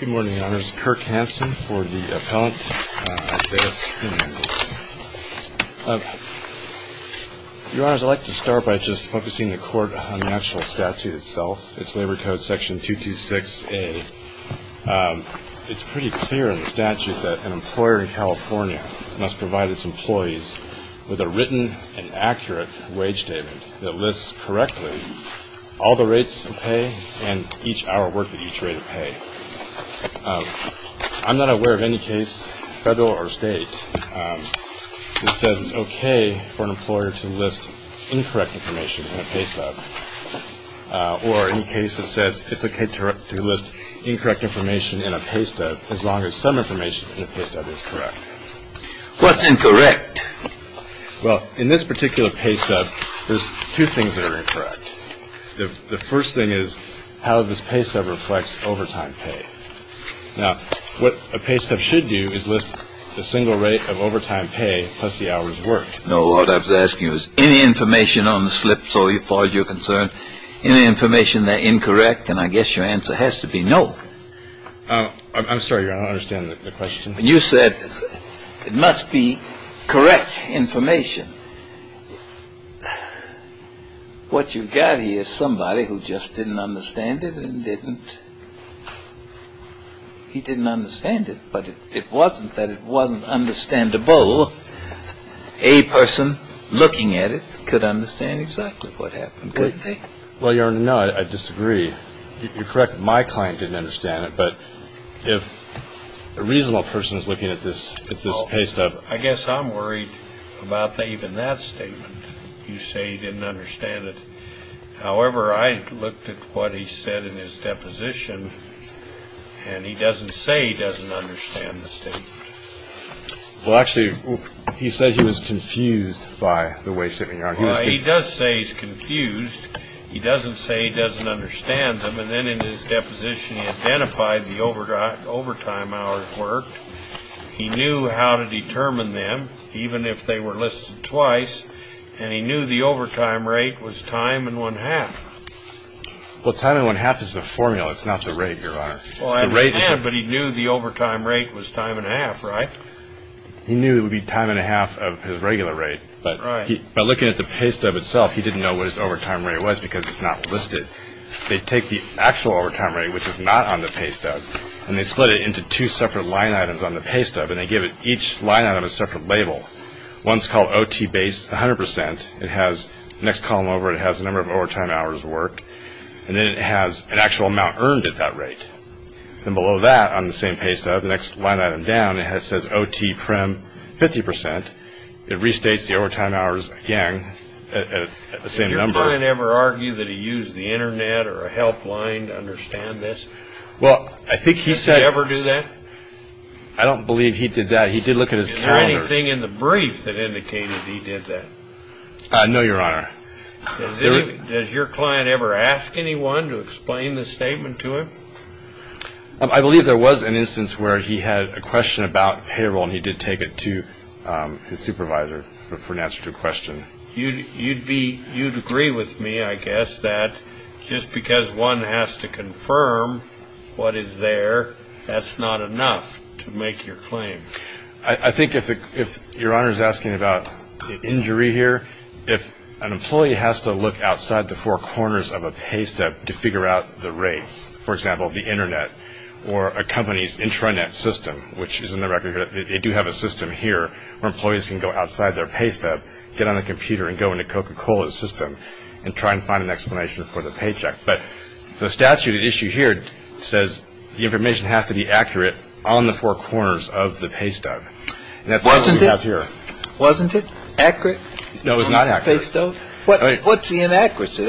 Good morning, Your Honors. Kirk Hansen for the appellant, Isaias Hernandez. Your Honors, I'd like to start by just focusing the Court on the actual statute itself. It's Labor Code section 226A. It's pretty clear in the statute that an employer in California must provide its employees with a written and accurate wage statement that lists correctly all the rates of pay and each hour worked at each rate of pay. I'm not aware of any case, federal or state, that says it's okay for an employer to list incorrect information in a pay stub or any case that says it's okay to list incorrect information in a pay stub as long as some information in a pay stub is correct. What's incorrect? Well, in this particular pay stub, there's two things that are incorrect. The first thing is how this pay stub reflects overtime pay. Now, what a pay stub should do is list the single rate of overtime pay plus the hours worked. No, what I was asking was any information on the slip, so far as you're concerned, any information that's incorrect, and I guess your answer has to be no. I'm sorry, Your Honor, I don't understand the question. You said it must be correct information. What you've got here is somebody who just didn't understand it and didn't... He didn't understand it, but it wasn't that it wasn't understandable. A person looking at it could understand exactly what happened, couldn't they? Well, Your Honor, no, I disagree. You're correct that my client didn't understand it, but if a reasonable person is looking at this pay stub... Well, I guess I'm worried about even that statement. You say he didn't understand it. However, I looked at what he said in his deposition, and he doesn't say he doesn't understand the statement. Well, actually, he said he was confused by the way statements are. Well, he does say he's confused. He doesn't say he doesn't understand them, and then in his deposition he identified the overtime hours worked. He knew how to determine them, even if they were listed twice, and he knew the overtime rate was time and one-half. Well, time and one-half is the formula. It's not the rate, Your Honor. Well, I understand, but he knew the overtime rate was time and a half, right? He knew it would be time and a half of his regular rate. Right. By looking at the pay stub itself, he didn't know what his overtime rate was because it's not listed. They take the actual overtime rate, which is not on the pay stub, and they split it into two separate line items on the pay stub, and they give each line item a separate label. One's called OT base 100%. It has the next column over it has the number of overtime hours worked, and then it has an actual amount earned at that rate. Then below that on the same pay stub, the next line item down, it says OT prem 50%. It restates the overtime hours again at the same number. Did your client ever argue that he used the Internet or a helpline to understand this? Well, I think he said – Did he ever do that? I don't believe he did that. He did look at his calendar. Is there anything in the brief that indicated he did that? No, Your Honor. Does your client ever ask anyone to explain the statement to him? I believe there was an instance where he had a question about payroll, and he did take it to his supervisor for an answer to a question. You'd agree with me, I guess, that just because one has to confirm what is there, that's not enough to make your claim. I think if Your Honor is asking about the injury here, if an employee has to look outside the four corners of a pay stub to figure out the rates, for example, the Internet or a company's intranet system, which is in the record here, they do have a system here where employees can go outside their pay stub, get on a computer and go into Coca-Cola's system and try and find an explanation for the paycheck. But the statute at issue here says the information has to be accurate on the four corners of the pay stub. Wasn't it accurate? No, it was not accurate. What's the inaccuracy?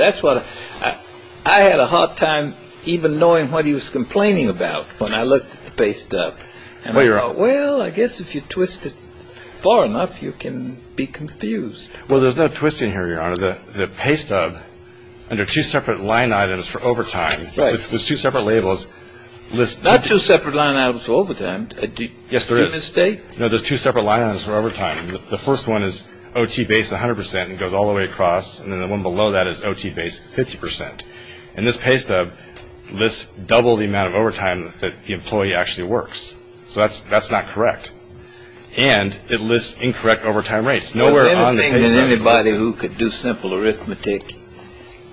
I had a hard time even knowing what he was complaining about when I looked at the pay stub. And I thought, well, I guess if you twist it far enough, you can be confused. Well, there's no twisting here, Your Honor. The pay stub, under two separate line items for overtime, there's two separate labels. Not two separate line items for overtime. Yes, there is. In this state? No, there's two separate line items for overtime. The first one is OT base 100 percent and goes all the way across. And then the one below that is OT base 50 percent. And this pay stub lists double the amount of overtime that the employee actually works. So that's not correct. And it lists incorrect overtime rates. Is there anything that anybody who could do simple arithmetic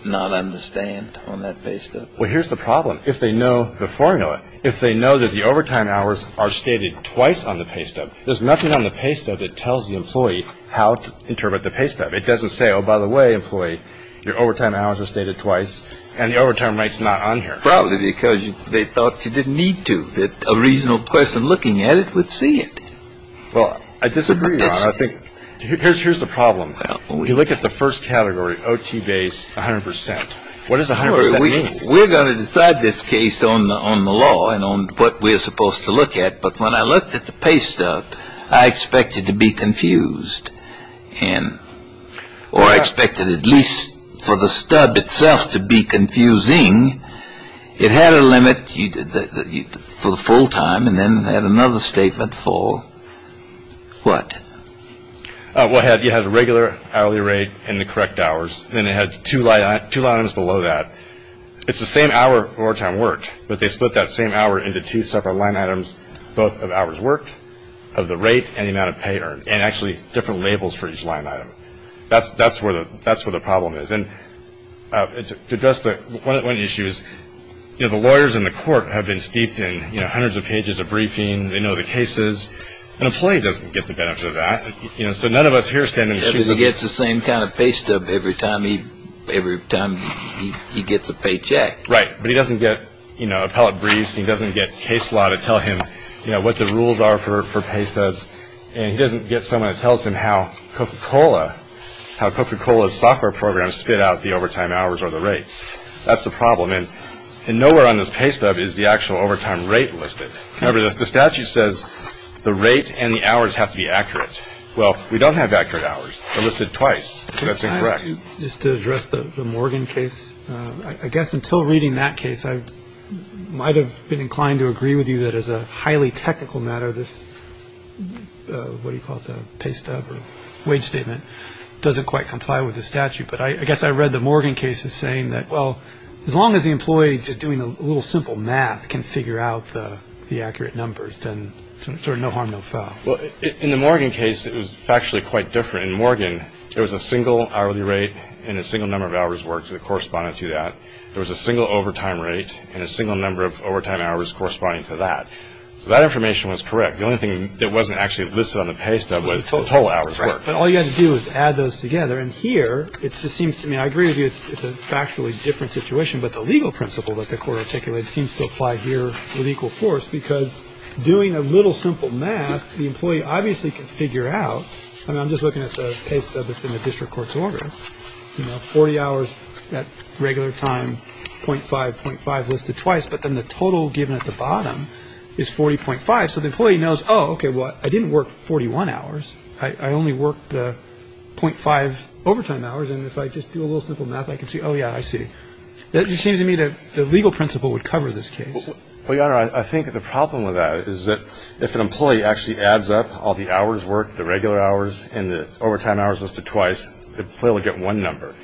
not understand on that pay stub? Well, here's the problem. If they know the formula, if they know that the overtime hours are stated twice on the pay stub, there's nothing on the pay stub that tells the employee how to interpret the pay stub. It doesn't say, oh, by the way, employee, your overtime hours are stated twice, and the overtime rate's not on here. Probably because they thought you didn't need to. A reasonable person looking at it would see it. Well, I disagree, Your Honor. Here's the problem. You look at the first category, OT base 100 percent. What does 100 percent mean? We're going to decide this case on the law and on what we're supposed to look at. But when I looked at the pay stub, I expected to be confused. Or I expected at least for the stub itself to be confusing. It had a limit for the full time and then had another statement for what? Well, it had a regular hourly rate and the correct hours. And it had two line items below that. It's the same hour overtime worked, but they split that same hour into two separate line items, both of hours worked, of the rate and the amount of pay earned, and actually different labels for each line item. That's where the problem is. And to address one of the issues, you know, the lawyers in the court have been steeped in, you know, hundreds of pages of briefing. They know the cases. An employee doesn't get the benefit of that. So none of us here stand in the shoes of the lawyer. Because he gets the same kind of pay stub every time he gets a paycheck. Right. But he doesn't get, you know, appellate briefs. He doesn't get case law to tell him, you know, what the rules are for pay stubs. And he doesn't get someone to tell him how Coca-Cola, how Coca-Cola's software program spit out the overtime hours or the rates. That's the problem. And nowhere on this pay stub is the actual overtime rate listed. Remember, the statute says the rate and the hours have to be accurate. Well, we don't have accurate hours. They're listed twice. That's incorrect. Can I ask you just to address the Morgan case? I guess until reading that case, I might have been inclined to agree with you that as a highly technical matter, this what do you call it, pay stub or wage statement, doesn't quite comply with the statute. But I guess I read the Morgan case as saying that, well, as long as the employee just doing a little simple math can figure out the accurate numbers, then sort of no harm, no foul. Well, in the Morgan case, it was factually quite different. In Morgan, there was a single hourly rate and a single number of hours work that corresponded to that. There was a single overtime rate and a single number of overtime hours corresponding to that. That information was correct. The only thing that wasn't actually listed on the pay stub was total hours. But all you had to do is add those together. And here it just seems to me, I agree with you, it's a factually different situation. But the legal principle that the court articulated seems to apply here with equal force because doing a little simple math, the employee obviously can figure out. I mean, I'm just looking at the pay stub that's in the district court's order. You know, 40 hours at regular time, .5, .5 listed twice. But then the total given at the bottom is 40.5. So the employee knows, oh, okay, well, I didn't work 41 hours. I only worked the .5 overtime hours. And if I just do a little simple math, I can see, oh, yeah, I see. It just seems to me that the legal principle would cover this case. Well, Your Honor, I think the problem with that is that if an employee actually adds up all the hours worked, the regular hours and the overtime hours listed twice, the employee will get one number.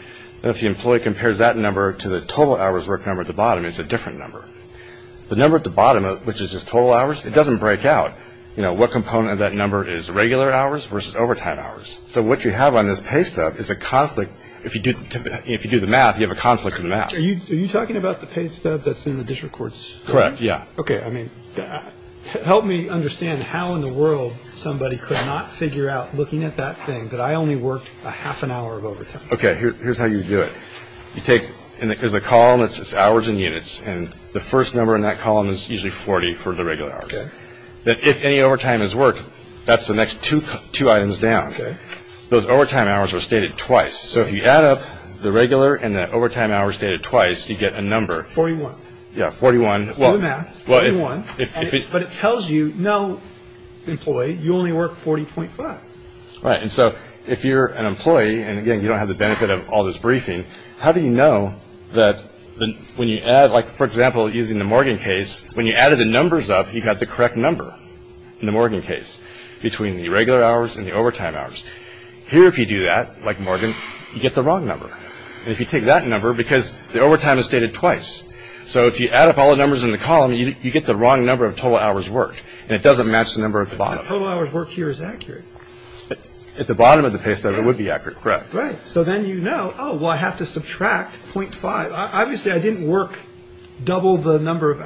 And if the employee compares that number to the total hours worked number at the bottom, it's a different number. The number at the bottom, which is just total hours, it doesn't break out, you know, what component of that number is regular hours versus overtime hours. So what you have on this pay stub is a conflict. If you do the math, you have a conflict in the math. Are you talking about the pay stub that's in the district court's order? Correct, yeah. Okay. I mean, help me understand how in the world somebody could not figure out, looking at that thing, that I only worked a half an hour of overtime. Okay. Here's how you do it. You take – there's a column that says hours and units, and the first number in that column is usually 40 for the regular hours. Okay. That if any overtime is worked, that's the next two items down. Okay. Those overtime hours are stated twice. So if you add up the regular and the overtime hours stated twice, you get a number. 41. Yeah, 41. If you do the math, 41. But it tells you, no, employee, you only work 40.5. Right. And so if you're an employee, and, again, you don't have the benefit of all this briefing, how do you know that when you add – like, for example, using the Morgan case, when you added the numbers up, you got the correct number in the Morgan case, between the regular hours and the overtime hours. Here, if you do that, like Morgan, you get the wrong number. And if you take that number – because the overtime is stated twice. So if you add up all the numbers in the column, you get the wrong number of total hours worked, and it doesn't match the number at the bottom. The total hours worked here is accurate. At the bottom of the pay stub, it would be accurate. Correct. Right. So then you know, oh, well, I have to subtract 0.5. Obviously, I didn't work double the number of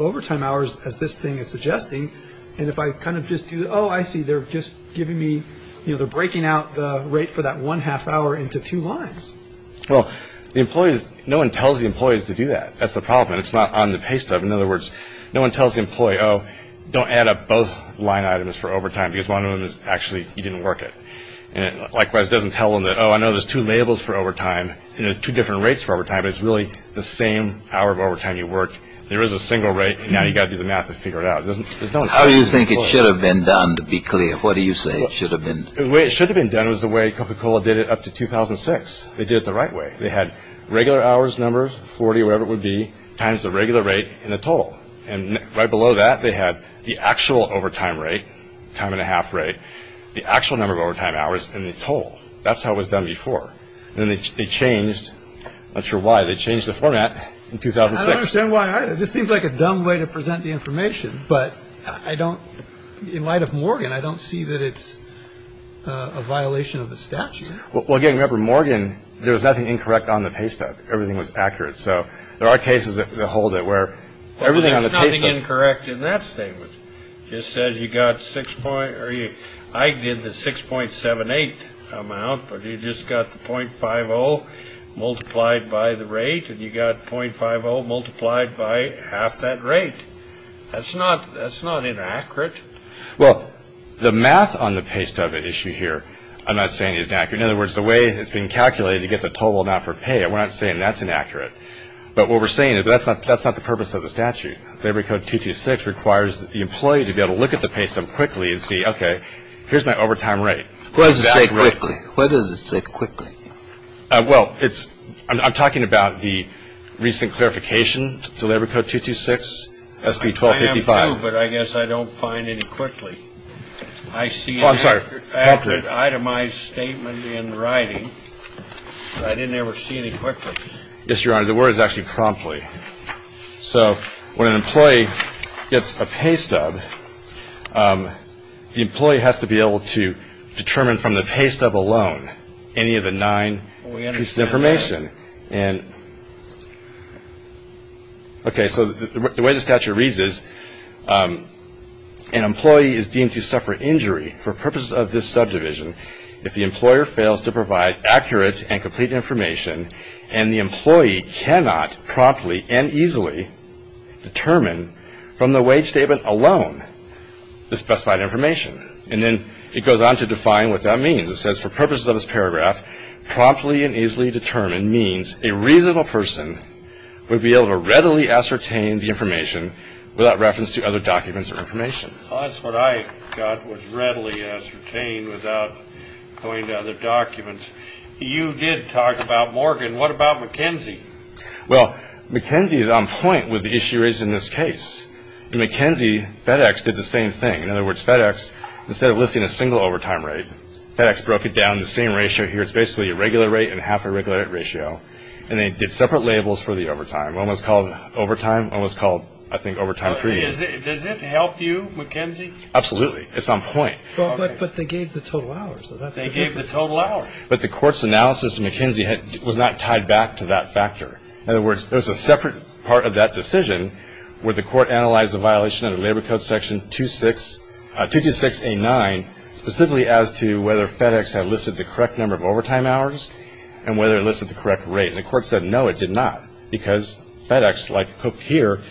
overtime hours, as this thing is suggesting. And if I kind of just do – oh, I see. They're just giving me – you know, they're breaking out the rate for that one half hour into two lines. Well, the employees – no one tells the employees to do that. That's the problem. It's not on the pay stub. In other words, no one tells the employee, oh, don't add up both line items for overtime, because one of them is actually you didn't work it. Likewise, it doesn't tell them that, oh, I know there's two labels for overtime, and there's two different rates for overtime, but it's really the same hour of overtime you worked. There is a single rate, and now you've got to do the math to figure it out. How do you think it should have been done, to be clear? What do you say it should have been? The way it should have been done was the way Coca-Cola did it up to 2006. They did it the right way. They had regular hours numbers, 40, whatever it would be, times the regular rate and the total. And right below that, they had the actual overtime rate, time and a half rate, the actual number of overtime hours, and the total. That's how it was done before. Then they changed – I'm not sure why – they changed the format in 2006. I don't understand why either. This seems like a dumb way to present the information, but I don't – in light of Morgan, I don't see that it's a violation of the statute. Well, again, remember, Morgan, there was nothing incorrect on the pay stub. Everything was accurate. So there are cases that hold it where everything on the pay stub – There's nothing incorrect in that statement. It just says you got six – I did the 6.78 amount, but you just got the .50 multiplied by the rate, and you got .50 multiplied by half that rate. That's not inaccurate. Well, the math on the pay stub issue here, I'm not saying is inaccurate. In other words, the way it's being calculated to get the total amount for pay, I'm not saying that's inaccurate. But what we're saying is that's not the purpose of the statute. Labor Code 226 requires the employee to be able to look at the pay stub quickly and see, okay, here's my overtime rate. What does it say quickly? What does it say quickly? Well, it's – I'm talking about the recent clarification to Labor Code 226, SB 1255. I am, too, but I guess I don't find any quickly. I see an accurate itemized statement in writing, but I didn't ever see any quickly. Yes, Your Honor. The word is actually promptly. So when an employee gets a pay stub, the employee has to be able to determine from the pay stub alone any of the nine pieces of information. Okay, so the way the statute reads is, an employee is deemed to suffer injury for purposes of this subdivision if the employer fails to provide accurate and complete information and the employee cannot promptly and easily determine from the wage statement alone the specified information. And then it goes on to define what that means. It says, for purposes of this paragraph, promptly and easily determine means a reasonable person would be able to readily ascertain the information without reference to other documents or information. Well, that's what I got was readily ascertain without going to other documents. You did talk about Morgan. What about McKenzie? Well, McKenzie is on point with the issue raised in this case. In McKenzie, FedEx did the same thing. In other words, FedEx, instead of listing a single overtime rate, FedEx broke it down to the same ratio here. It's basically a regular rate and half a regular rate ratio, and they did separate labels for the overtime. One was called overtime. One was called, I think, overtime premium. Does it help you, McKenzie? Absolutely. It's on point. But they gave the total hours. They gave the total hours. But the court's analysis of McKenzie was not tied back to that factor. In other words, there was a separate part of that decision where the court analyzed the violation of the Labor Code section 226A9 specifically as to whether FedEx had listed the correct number of overtime hours and whether it listed the correct rate. And the court said, no, it did not, because FedEx, like Cook here,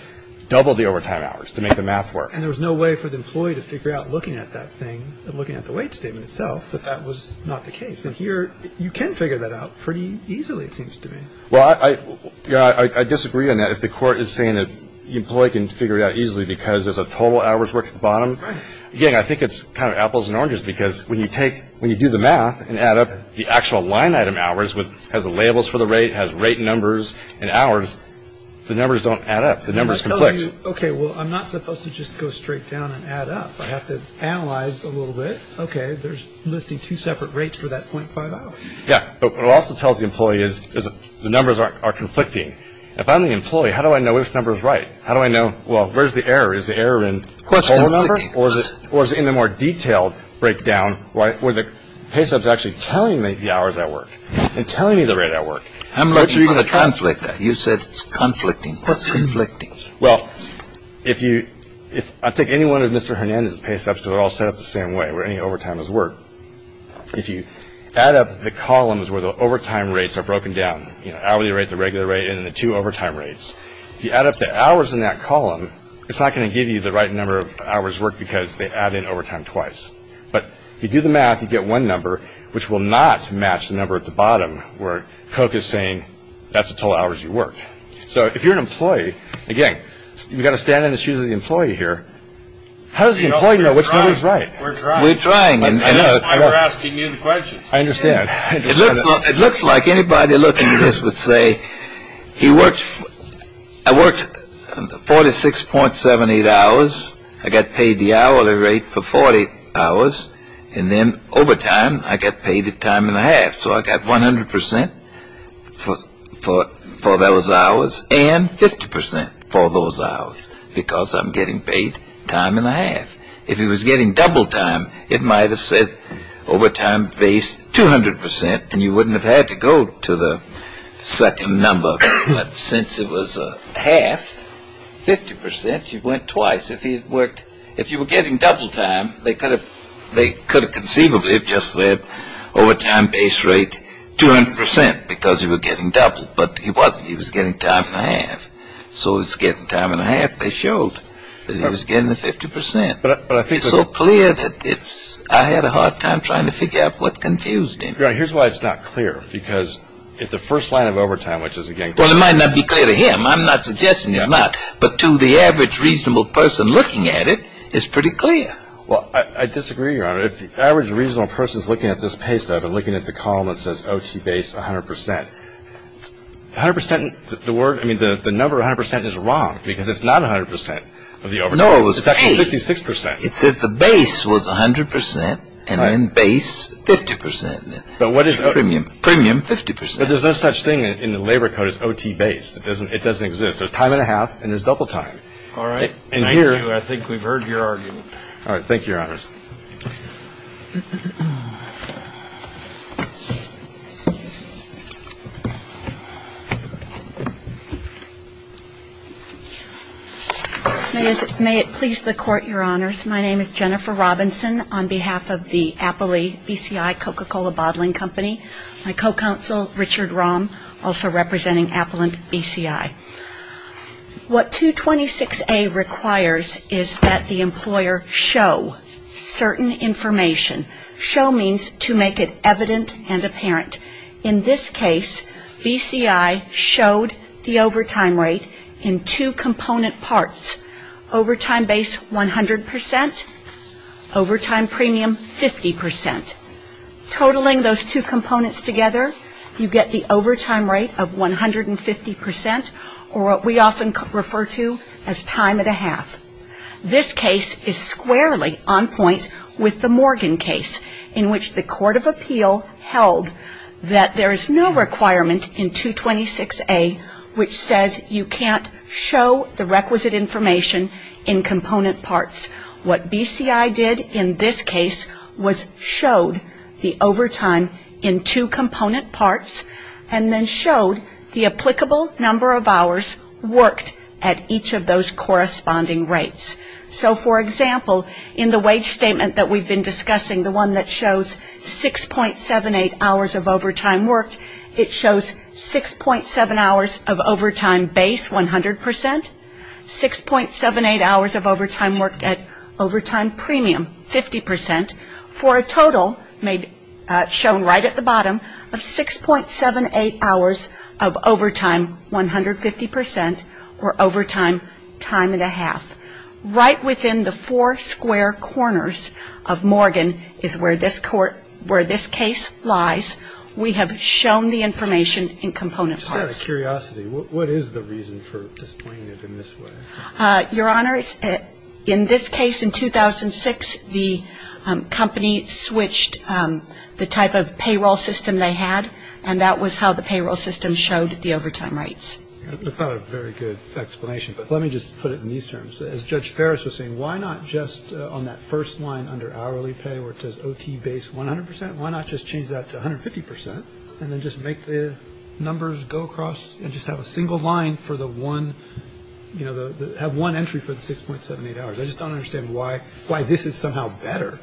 doubled the overtime hours to make the math work. And there was no way for the employee to figure out looking at that thing and looking at the wait statement itself that that was not the case. And here you can figure that out pretty easily, it seems to me. Well, I disagree on that. If the court is saying that the employee can figure it out easily because there's a total hours work at the bottom, again, I think it's kind of apples and oranges, because when you do the math and add up the actual line item hours, has the labels for the rate, has rate numbers and hours, the numbers don't add up. The numbers conflict. Okay, well, I'm not supposed to just go straight down and add up. I have to analyze a little bit. Okay, there's listing two separate rates for that 0.5 hour. Yeah, but what it also tells the employee is the numbers are conflicting. If I'm the employee, how do I know which number is right? How do I know, well, where's the error? Is the error in the whole number or is it in the more detailed breakdown where the pay sub is actually telling me the hours at work and telling me the rate at work? How much are you going to translate that? You said it's conflicting. What's conflicting? Well, if you – I'll take any one of Mr. Hernandez's pay subs because they're all set up the same way where any overtime is work. If you add up the columns where the overtime rates are broken down, hourly rate, the regular rate, and then the two overtime rates, if you add up the hours in that column, it's not going to give you the right number of hours work because they add in overtime twice. But if you do the math, you get one number which will not match the number at the bottom where Coke is saying that's the total hours you work. So if you're an employee, again, you've got to stand in the shoes of the employee here. How does the employee know which number is right? We're trying. We're trying. I know. You're asking me the questions. I understand. It looks like anybody looking at this would say he works – I worked 46.78 hours. I got paid the hourly rate for 48 hours, and then overtime, I got paid the time and a half. So I got 100 percent for those hours and 50 percent for those hours because I'm getting paid time and a half. If he was getting double time, it might have said overtime base 200 percent, and you wouldn't have had to go to the second number. But since it was a half, 50 percent, you went twice. If you were getting double time, they could have conceivably just said overtime base rate 200 percent because you were getting double. But he wasn't. He was getting time and a half. So he was getting time and a half. They showed that he was getting the 50 percent. It's so clear that I had a hard time trying to figure out what confused him. Your Honor, here's why it's not clear. Because if the first line of overtime, which is, again – Well, it might not be clear to him. I'm not suggesting it's not. But to the average reasonable person looking at it, it's pretty clear. Well, I disagree, Your Honor. If the average reasonable person is looking at this paystub and looking at the column that says OT base 100 percent, 100 percent, the word – I mean, the number 100 percent is wrong because it's not 100 percent of the overtime. No, it was paid. It's actually 66 percent. It said the base was 100 percent and then base 50 percent. But what is – Premium. Premium 50 percent. But there's no such thing in the labor code as OT base. It doesn't exist. There's time and a half and there's double time. All right. Thank you. I think we've heard your argument. All right. Thank you, Your Honors. May it please the Court, Your Honors. My name is Jennifer Robinson on behalf of the Appley BCI Coca-Cola Bottling Company. My co-counsel, Richard Romm, also representing Applin BCI. What 226A requires is that the employer show certain information. Show means to make it evident and apparent. In this case, BCI showed the overtime rate in two component parts. Overtime base 100 percent. Overtime premium 50 percent. Totaling those two components together, you get the overtime rate of 150 percent or what we often refer to as time and a half. This case is squarely on point with the Morgan case in which the court of appeal held that there is no requirement in 226A which says you can't show the requisite information in component parts. What BCI did in this case was showed the overtime in two component parts and then showed the applicable number of hours worked at each of those corresponding rates. So, for example, in the wage statement that we've been discussing, the one that shows 6.78 hours of overtime worked, it shows 6.7 hours of overtime base 100 percent. 6.78 hours of overtime worked at overtime premium 50 percent for a total shown right at the bottom of 6.78 hours of overtime 150 percent or overtime time and a half. Right within the four square corners of Morgan is where this case lies. We have shown the information in component parts. Just out of curiosity, what is the reason for displaying it in this way? Your Honor, in this case in 2006, the company switched the type of payroll system they had and that was how the payroll system showed the overtime rates. That's not a very good explanation, but let me just put it in these terms. As Judge Ferris was saying, why not just on that first line under hourly pay where it says OT base 100 percent, why not just change that to 150 percent and then just make the numbers go across and just have a single line for the one, you know, have one entry for the 6.78 hours? I just don't understand why this is somehow better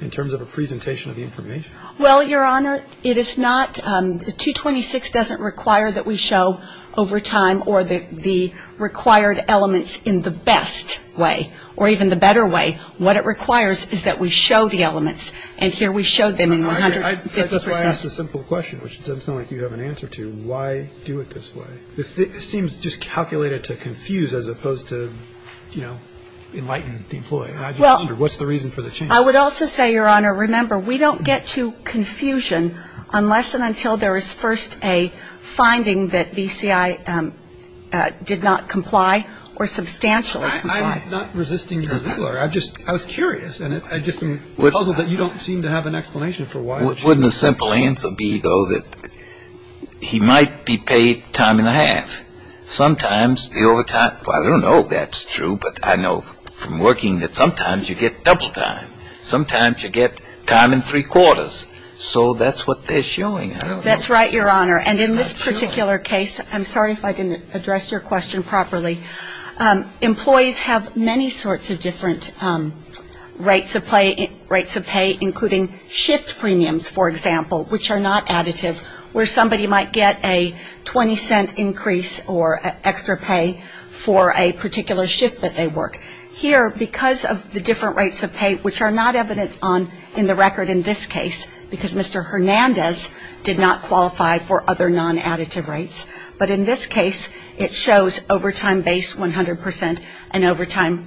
in terms of a presentation of the information. Well, Your Honor, it is not, 226 doesn't require that we show overtime or the required elements in the best way or even the better way. What it requires is that we show the elements and here we showed them in 150 percent. I just want to ask a simple question, which it doesn't sound like you have an answer to. Why do it this way? This seems just calculated to confuse as opposed to, you know, enlighten the employee. I just wonder, what's the reason for the change? I would also say, Your Honor, remember we don't get to confusion unless and until there is first a finding that BCI did not comply or substantially complied. I'm not resisting your singularity. I just, I was curious and I just am puzzled that you don't seem to have an explanation for why. Wouldn't the simple answer be, though, that he might be paid time and a half. Sometimes the overtime, well, I don't know if that's true, but I know from working that sometimes you get double time. Sometimes you get time and three quarters. So that's what they're showing. That's right, Your Honor. And in this particular case, I'm sorry if I didn't address your question properly, employees have many sorts of different rates of pay, including shift premiums, for example, which are not additive, where somebody might get a 20-cent increase or extra pay for a particular shift that they work. Here, because of the different rates of pay, which are not evident in the record in this case, because Mr. Hernandez did not qualify for other non-additive rates, but in this case it shows overtime base 100 percent and overtime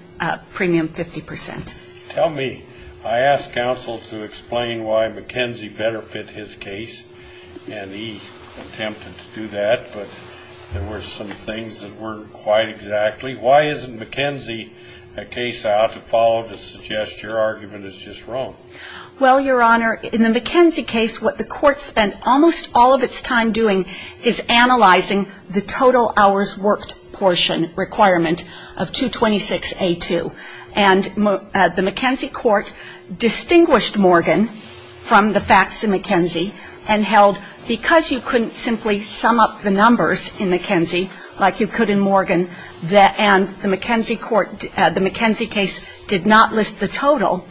premium 50 percent. Tell me, I asked counsel to explain why McKenzie better fit his case, and he attempted to do that, but there were some things that weren't quite exactly. Why isn't McKenzie a case I ought to follow to suggest your argument is just wrong? Well, Your Honor, in the McKenzie case, what the court spent almost all of its time doing is analyzing the total hours worked portion requirement of 226A2. And the McKenzie court distinguished Morgan from the facts in McKenzie and held because you couldn't simply sum up the numbers in McKenzie like you could in Morgan, and the McKenzie court, the McKenzie case did not list the total,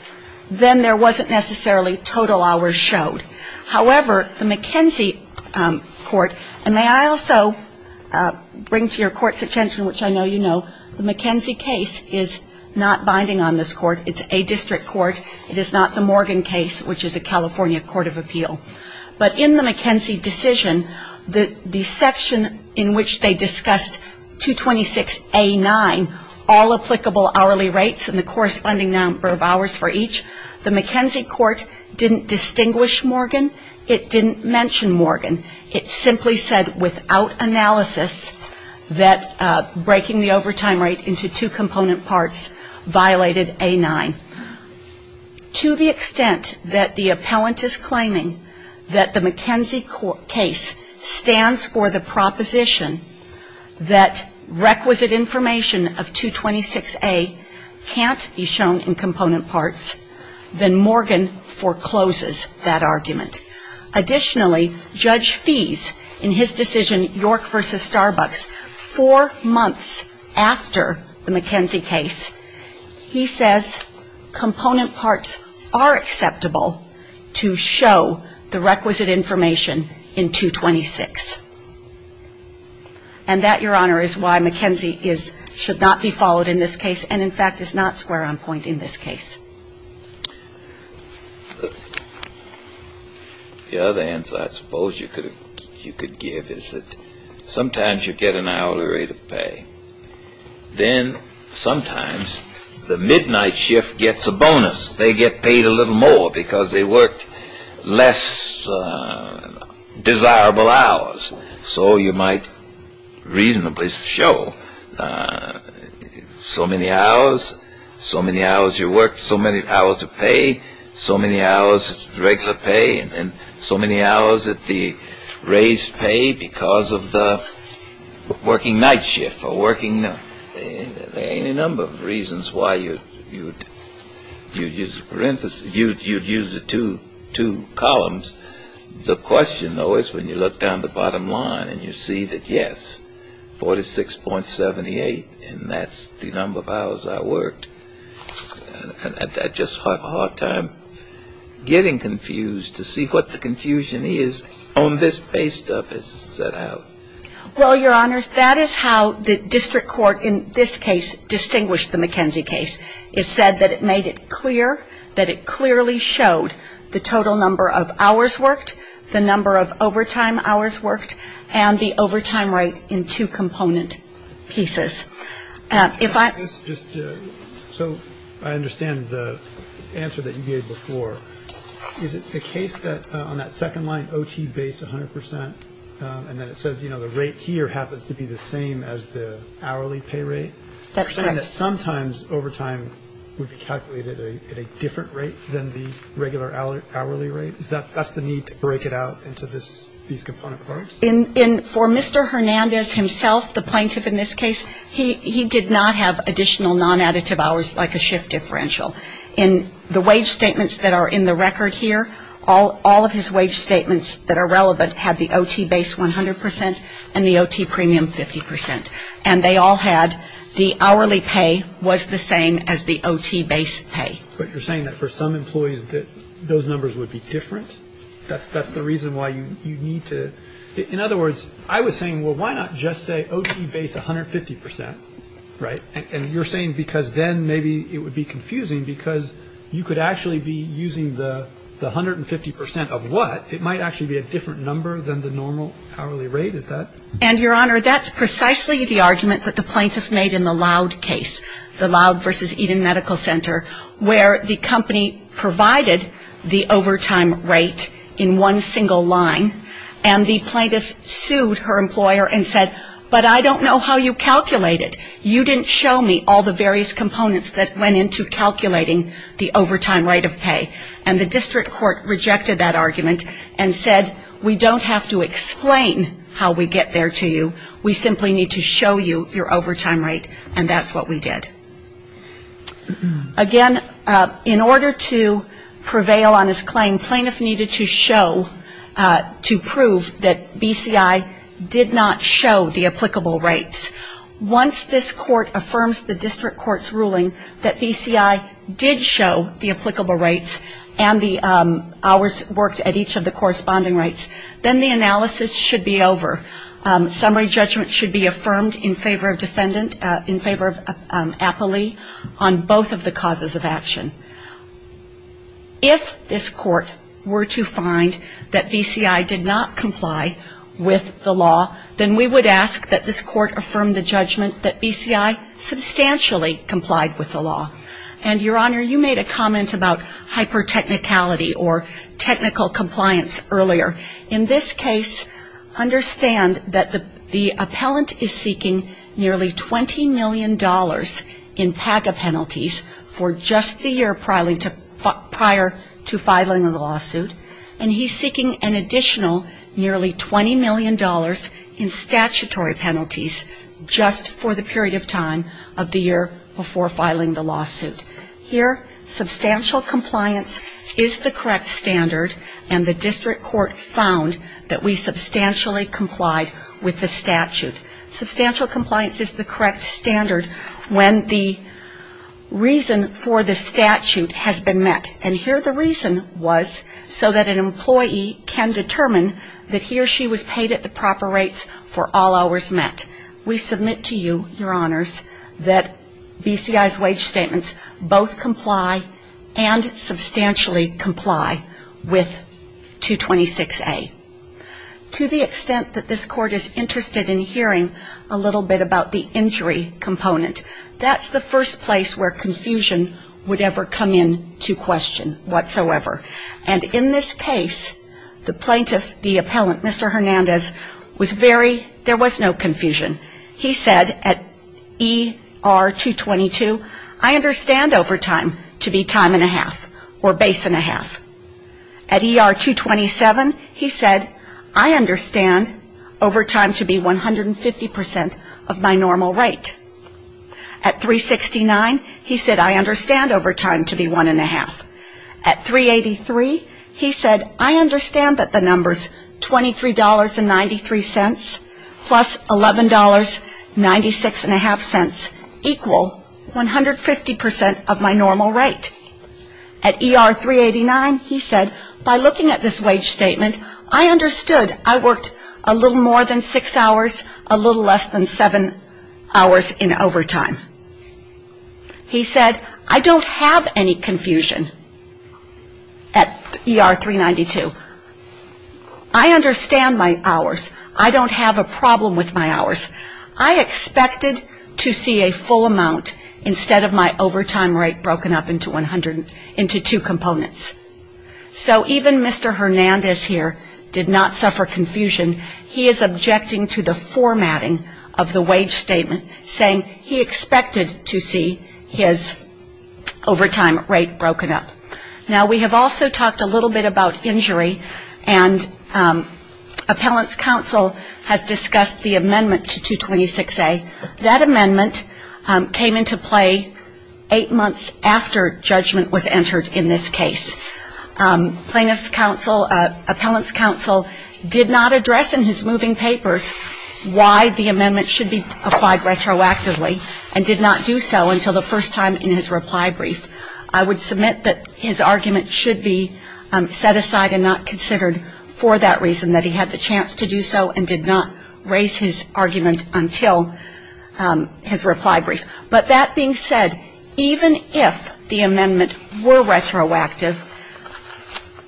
then there wasn't necessarily total hours showed. However, the McKenzie court, and may I also bring to your court's attention, which I know you know, the McKenzie case is not binding on this court. It's a district court. It is not the Morgan case, which is a California court of appeal. But in the McKenzie decision, the section in which they discussed 226A9, all applicable hourly rates and the corresponding number of hours for each, the McKenzie court didn't distinguish Morgan. It didn't mention Morgan. It simply said without analysis that breaking the overtime rate into two component parts violated A9. To the extent that the appellant is claiming that the McKenzie case stands for the proposition that requisite information of 226A can't be shown in component parts, then Morgan forecloses that argument. Additionally, Judge Fees in his decision, York v. Starbucks, four months after the McKenzie case, he says component parts are acceptable to show the requisite information in 226. And that, Your Honor, is why McKenzie should not be followed in this case and, in fact, is not square on point in this case. The other answer I suppose you could give is that sometimes you get an hourly rate of pay. Then sometimes the midnight shift gets a bonus. They get paid a little more because they worked less desirable hours. So you might reasonably show so many hours, so many hours you worked, so many hours of pay, so many hours of regular pay and so many hours of the raised pay because of the working night shift or working. There are any number of reasons why you'd use the parentheses, you'd use the two columns. The question, though, is when you look down the bottom line and you see that, yes, 46.78, and that's the number of hours I worked. I just have a hard time getting confused to see what the confusion is on this pay stuff as it's set out. Well, Your Honors, that is how the district court in this case distinguished the McKenzie case. It said that it made it clear that it clearly showed the total number of hours worked, the number of overtime hours worked, and the overtime rate in two component pieces. So I understand the answer that you gave before. Is it the case that on that second line, OT base 100 percent, and then it says the rate here happens to be the same as the hourly pay rate? That's correct. You're saying that sometimes overtime would be calculated at a different rate than the regular hourly rate? That's the need to break it out into these component parts? For Mr. Hernandez himself, the plaintiff in this case, he did not have additional nonadditive hours like a shift differential. In the wage statements that are in the record here, all of his wage statements that are relevant had the OT base 100 percent and the OT premium 50 percent. And they all had the hourly pay was the same as the OT base pay. But you're saying that for some employees that those numbers would be different? That's the reason why you need to. In other words, I was saying, well, why not just say OT base 150 percent, right? And you're saying because then maybe it would be confusing because you could actually be using the 150 percent of what? It might actually be a different number than the normal hourly rate, is that? And, Your Honor, that's precisely the argument that the plaintiff made in the Loud case, the Loud versus Eden Medical Center, where the company provided the overtime rate in one single line, and the plaintiff sued her employer and said, but I don't know how you calculated. You didn't show me all the various components that went into calculating the overtime rate of pay. And the district court rejected that argument and said, we don't have to explain how we get there to you. We simply need to show you your overtime rate. And that's what we did. Again, in order to prevail on this claim, plaintiff needed to show, to prove that BCI did not show the applicable rates. Once this court affirms the district court's ruling that BCI did show the applicable rates and the hours worked at each of the corresponding rates, then the analysis should be over. Summary judgment should be affirmed in favor of defendant, in favor of Appley on both of the causes of action. If this court were to find that BCI did not comply with the law, then we would ask that this court affirm the judgment that BCI substantially complied with the law. And, Your Honor, you made a comment about hypertechnicality or technical compliance earlier. In this case, understand that the appellant is seeking nearly $20 million in PAGA penalties for just the year prior to filing the lawsuit, and he's seeking an additional nearly $20 million in statutory penalties just for the period of time of the year before filing the lawsuit. Here, substantial compliance is the correct standard, and the district court found that we substantially complied with the statute. Substantial compliance is the correct standard when the reason for the statute has been met. And here the reason was so that an employee can determine that he or she was paid at the proper rates for all hours met. We submit to you, Your Honors, that BCI's wage statements both comply and substantially comply with 226A. To the extent that this court is interested in hearing a little bit about the injury component, that's the first place where confusion would ever come into question whatsoever. And in this case, the plaintiff, the appellant, Mr. Hernandez, was very, there was no confusion. He said at ER-222, I understand overtime to be time and a half or base and a half. At ER-227, he said, I understand overtime to be 150% of my normal rate. At 369, he said, I understand overtime to be one and a half. At 383, he said, I understand that the number's $23.93 plus $11.50, plus $11.50, plus $11.50. Equal 150% of my normal rate. At ER-389, he said, by looking at this wage statement, I understood I worked a little more than six hours, a little less than seven hours in overtime. He said, I don't have any confusion at ER-392. I understand my hours. I don't have a problem with my hours. I expected to see a full amount instead of my overtime rate broken up into two components. So even Mr. Hernandez here did not suffer confusion. He is objecting to the formatting of the wage statement, saying he expected to see his overtime rate broken up. He's objecting to the fact that the number's $23.93 plus $11.50, plus $11.50, plus $11.50. And appellant's counsel has discussed the amendment to 226A. That amendment came into play eight months after judgment was entered in this case. Plaintiff's counsel, appellant's counsel did not address in his moving papers why the amendment should be applied to him. He did not raise his argument until his reply brief. But that being said, even if the amendment were retroactive,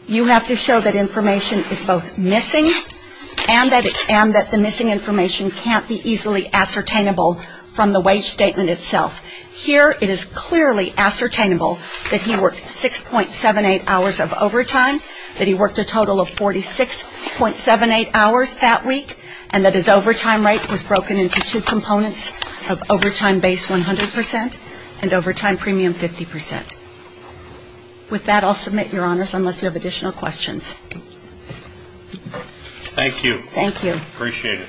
you have to show that information is both missing and that the missing information can't be easily ascertainable from the wage statement itself. Here it is clearly ascertainable that he worked 6.78 hours of overtime, that he worked a total of 46.78 hours that week, and that his overtime rate was broken into two components of overtime base 100 percent and overtime premium 50 percent. With that, I'll submit, Your Honors, unless you have additional questions. Thank you. Thank you. Appreciate it.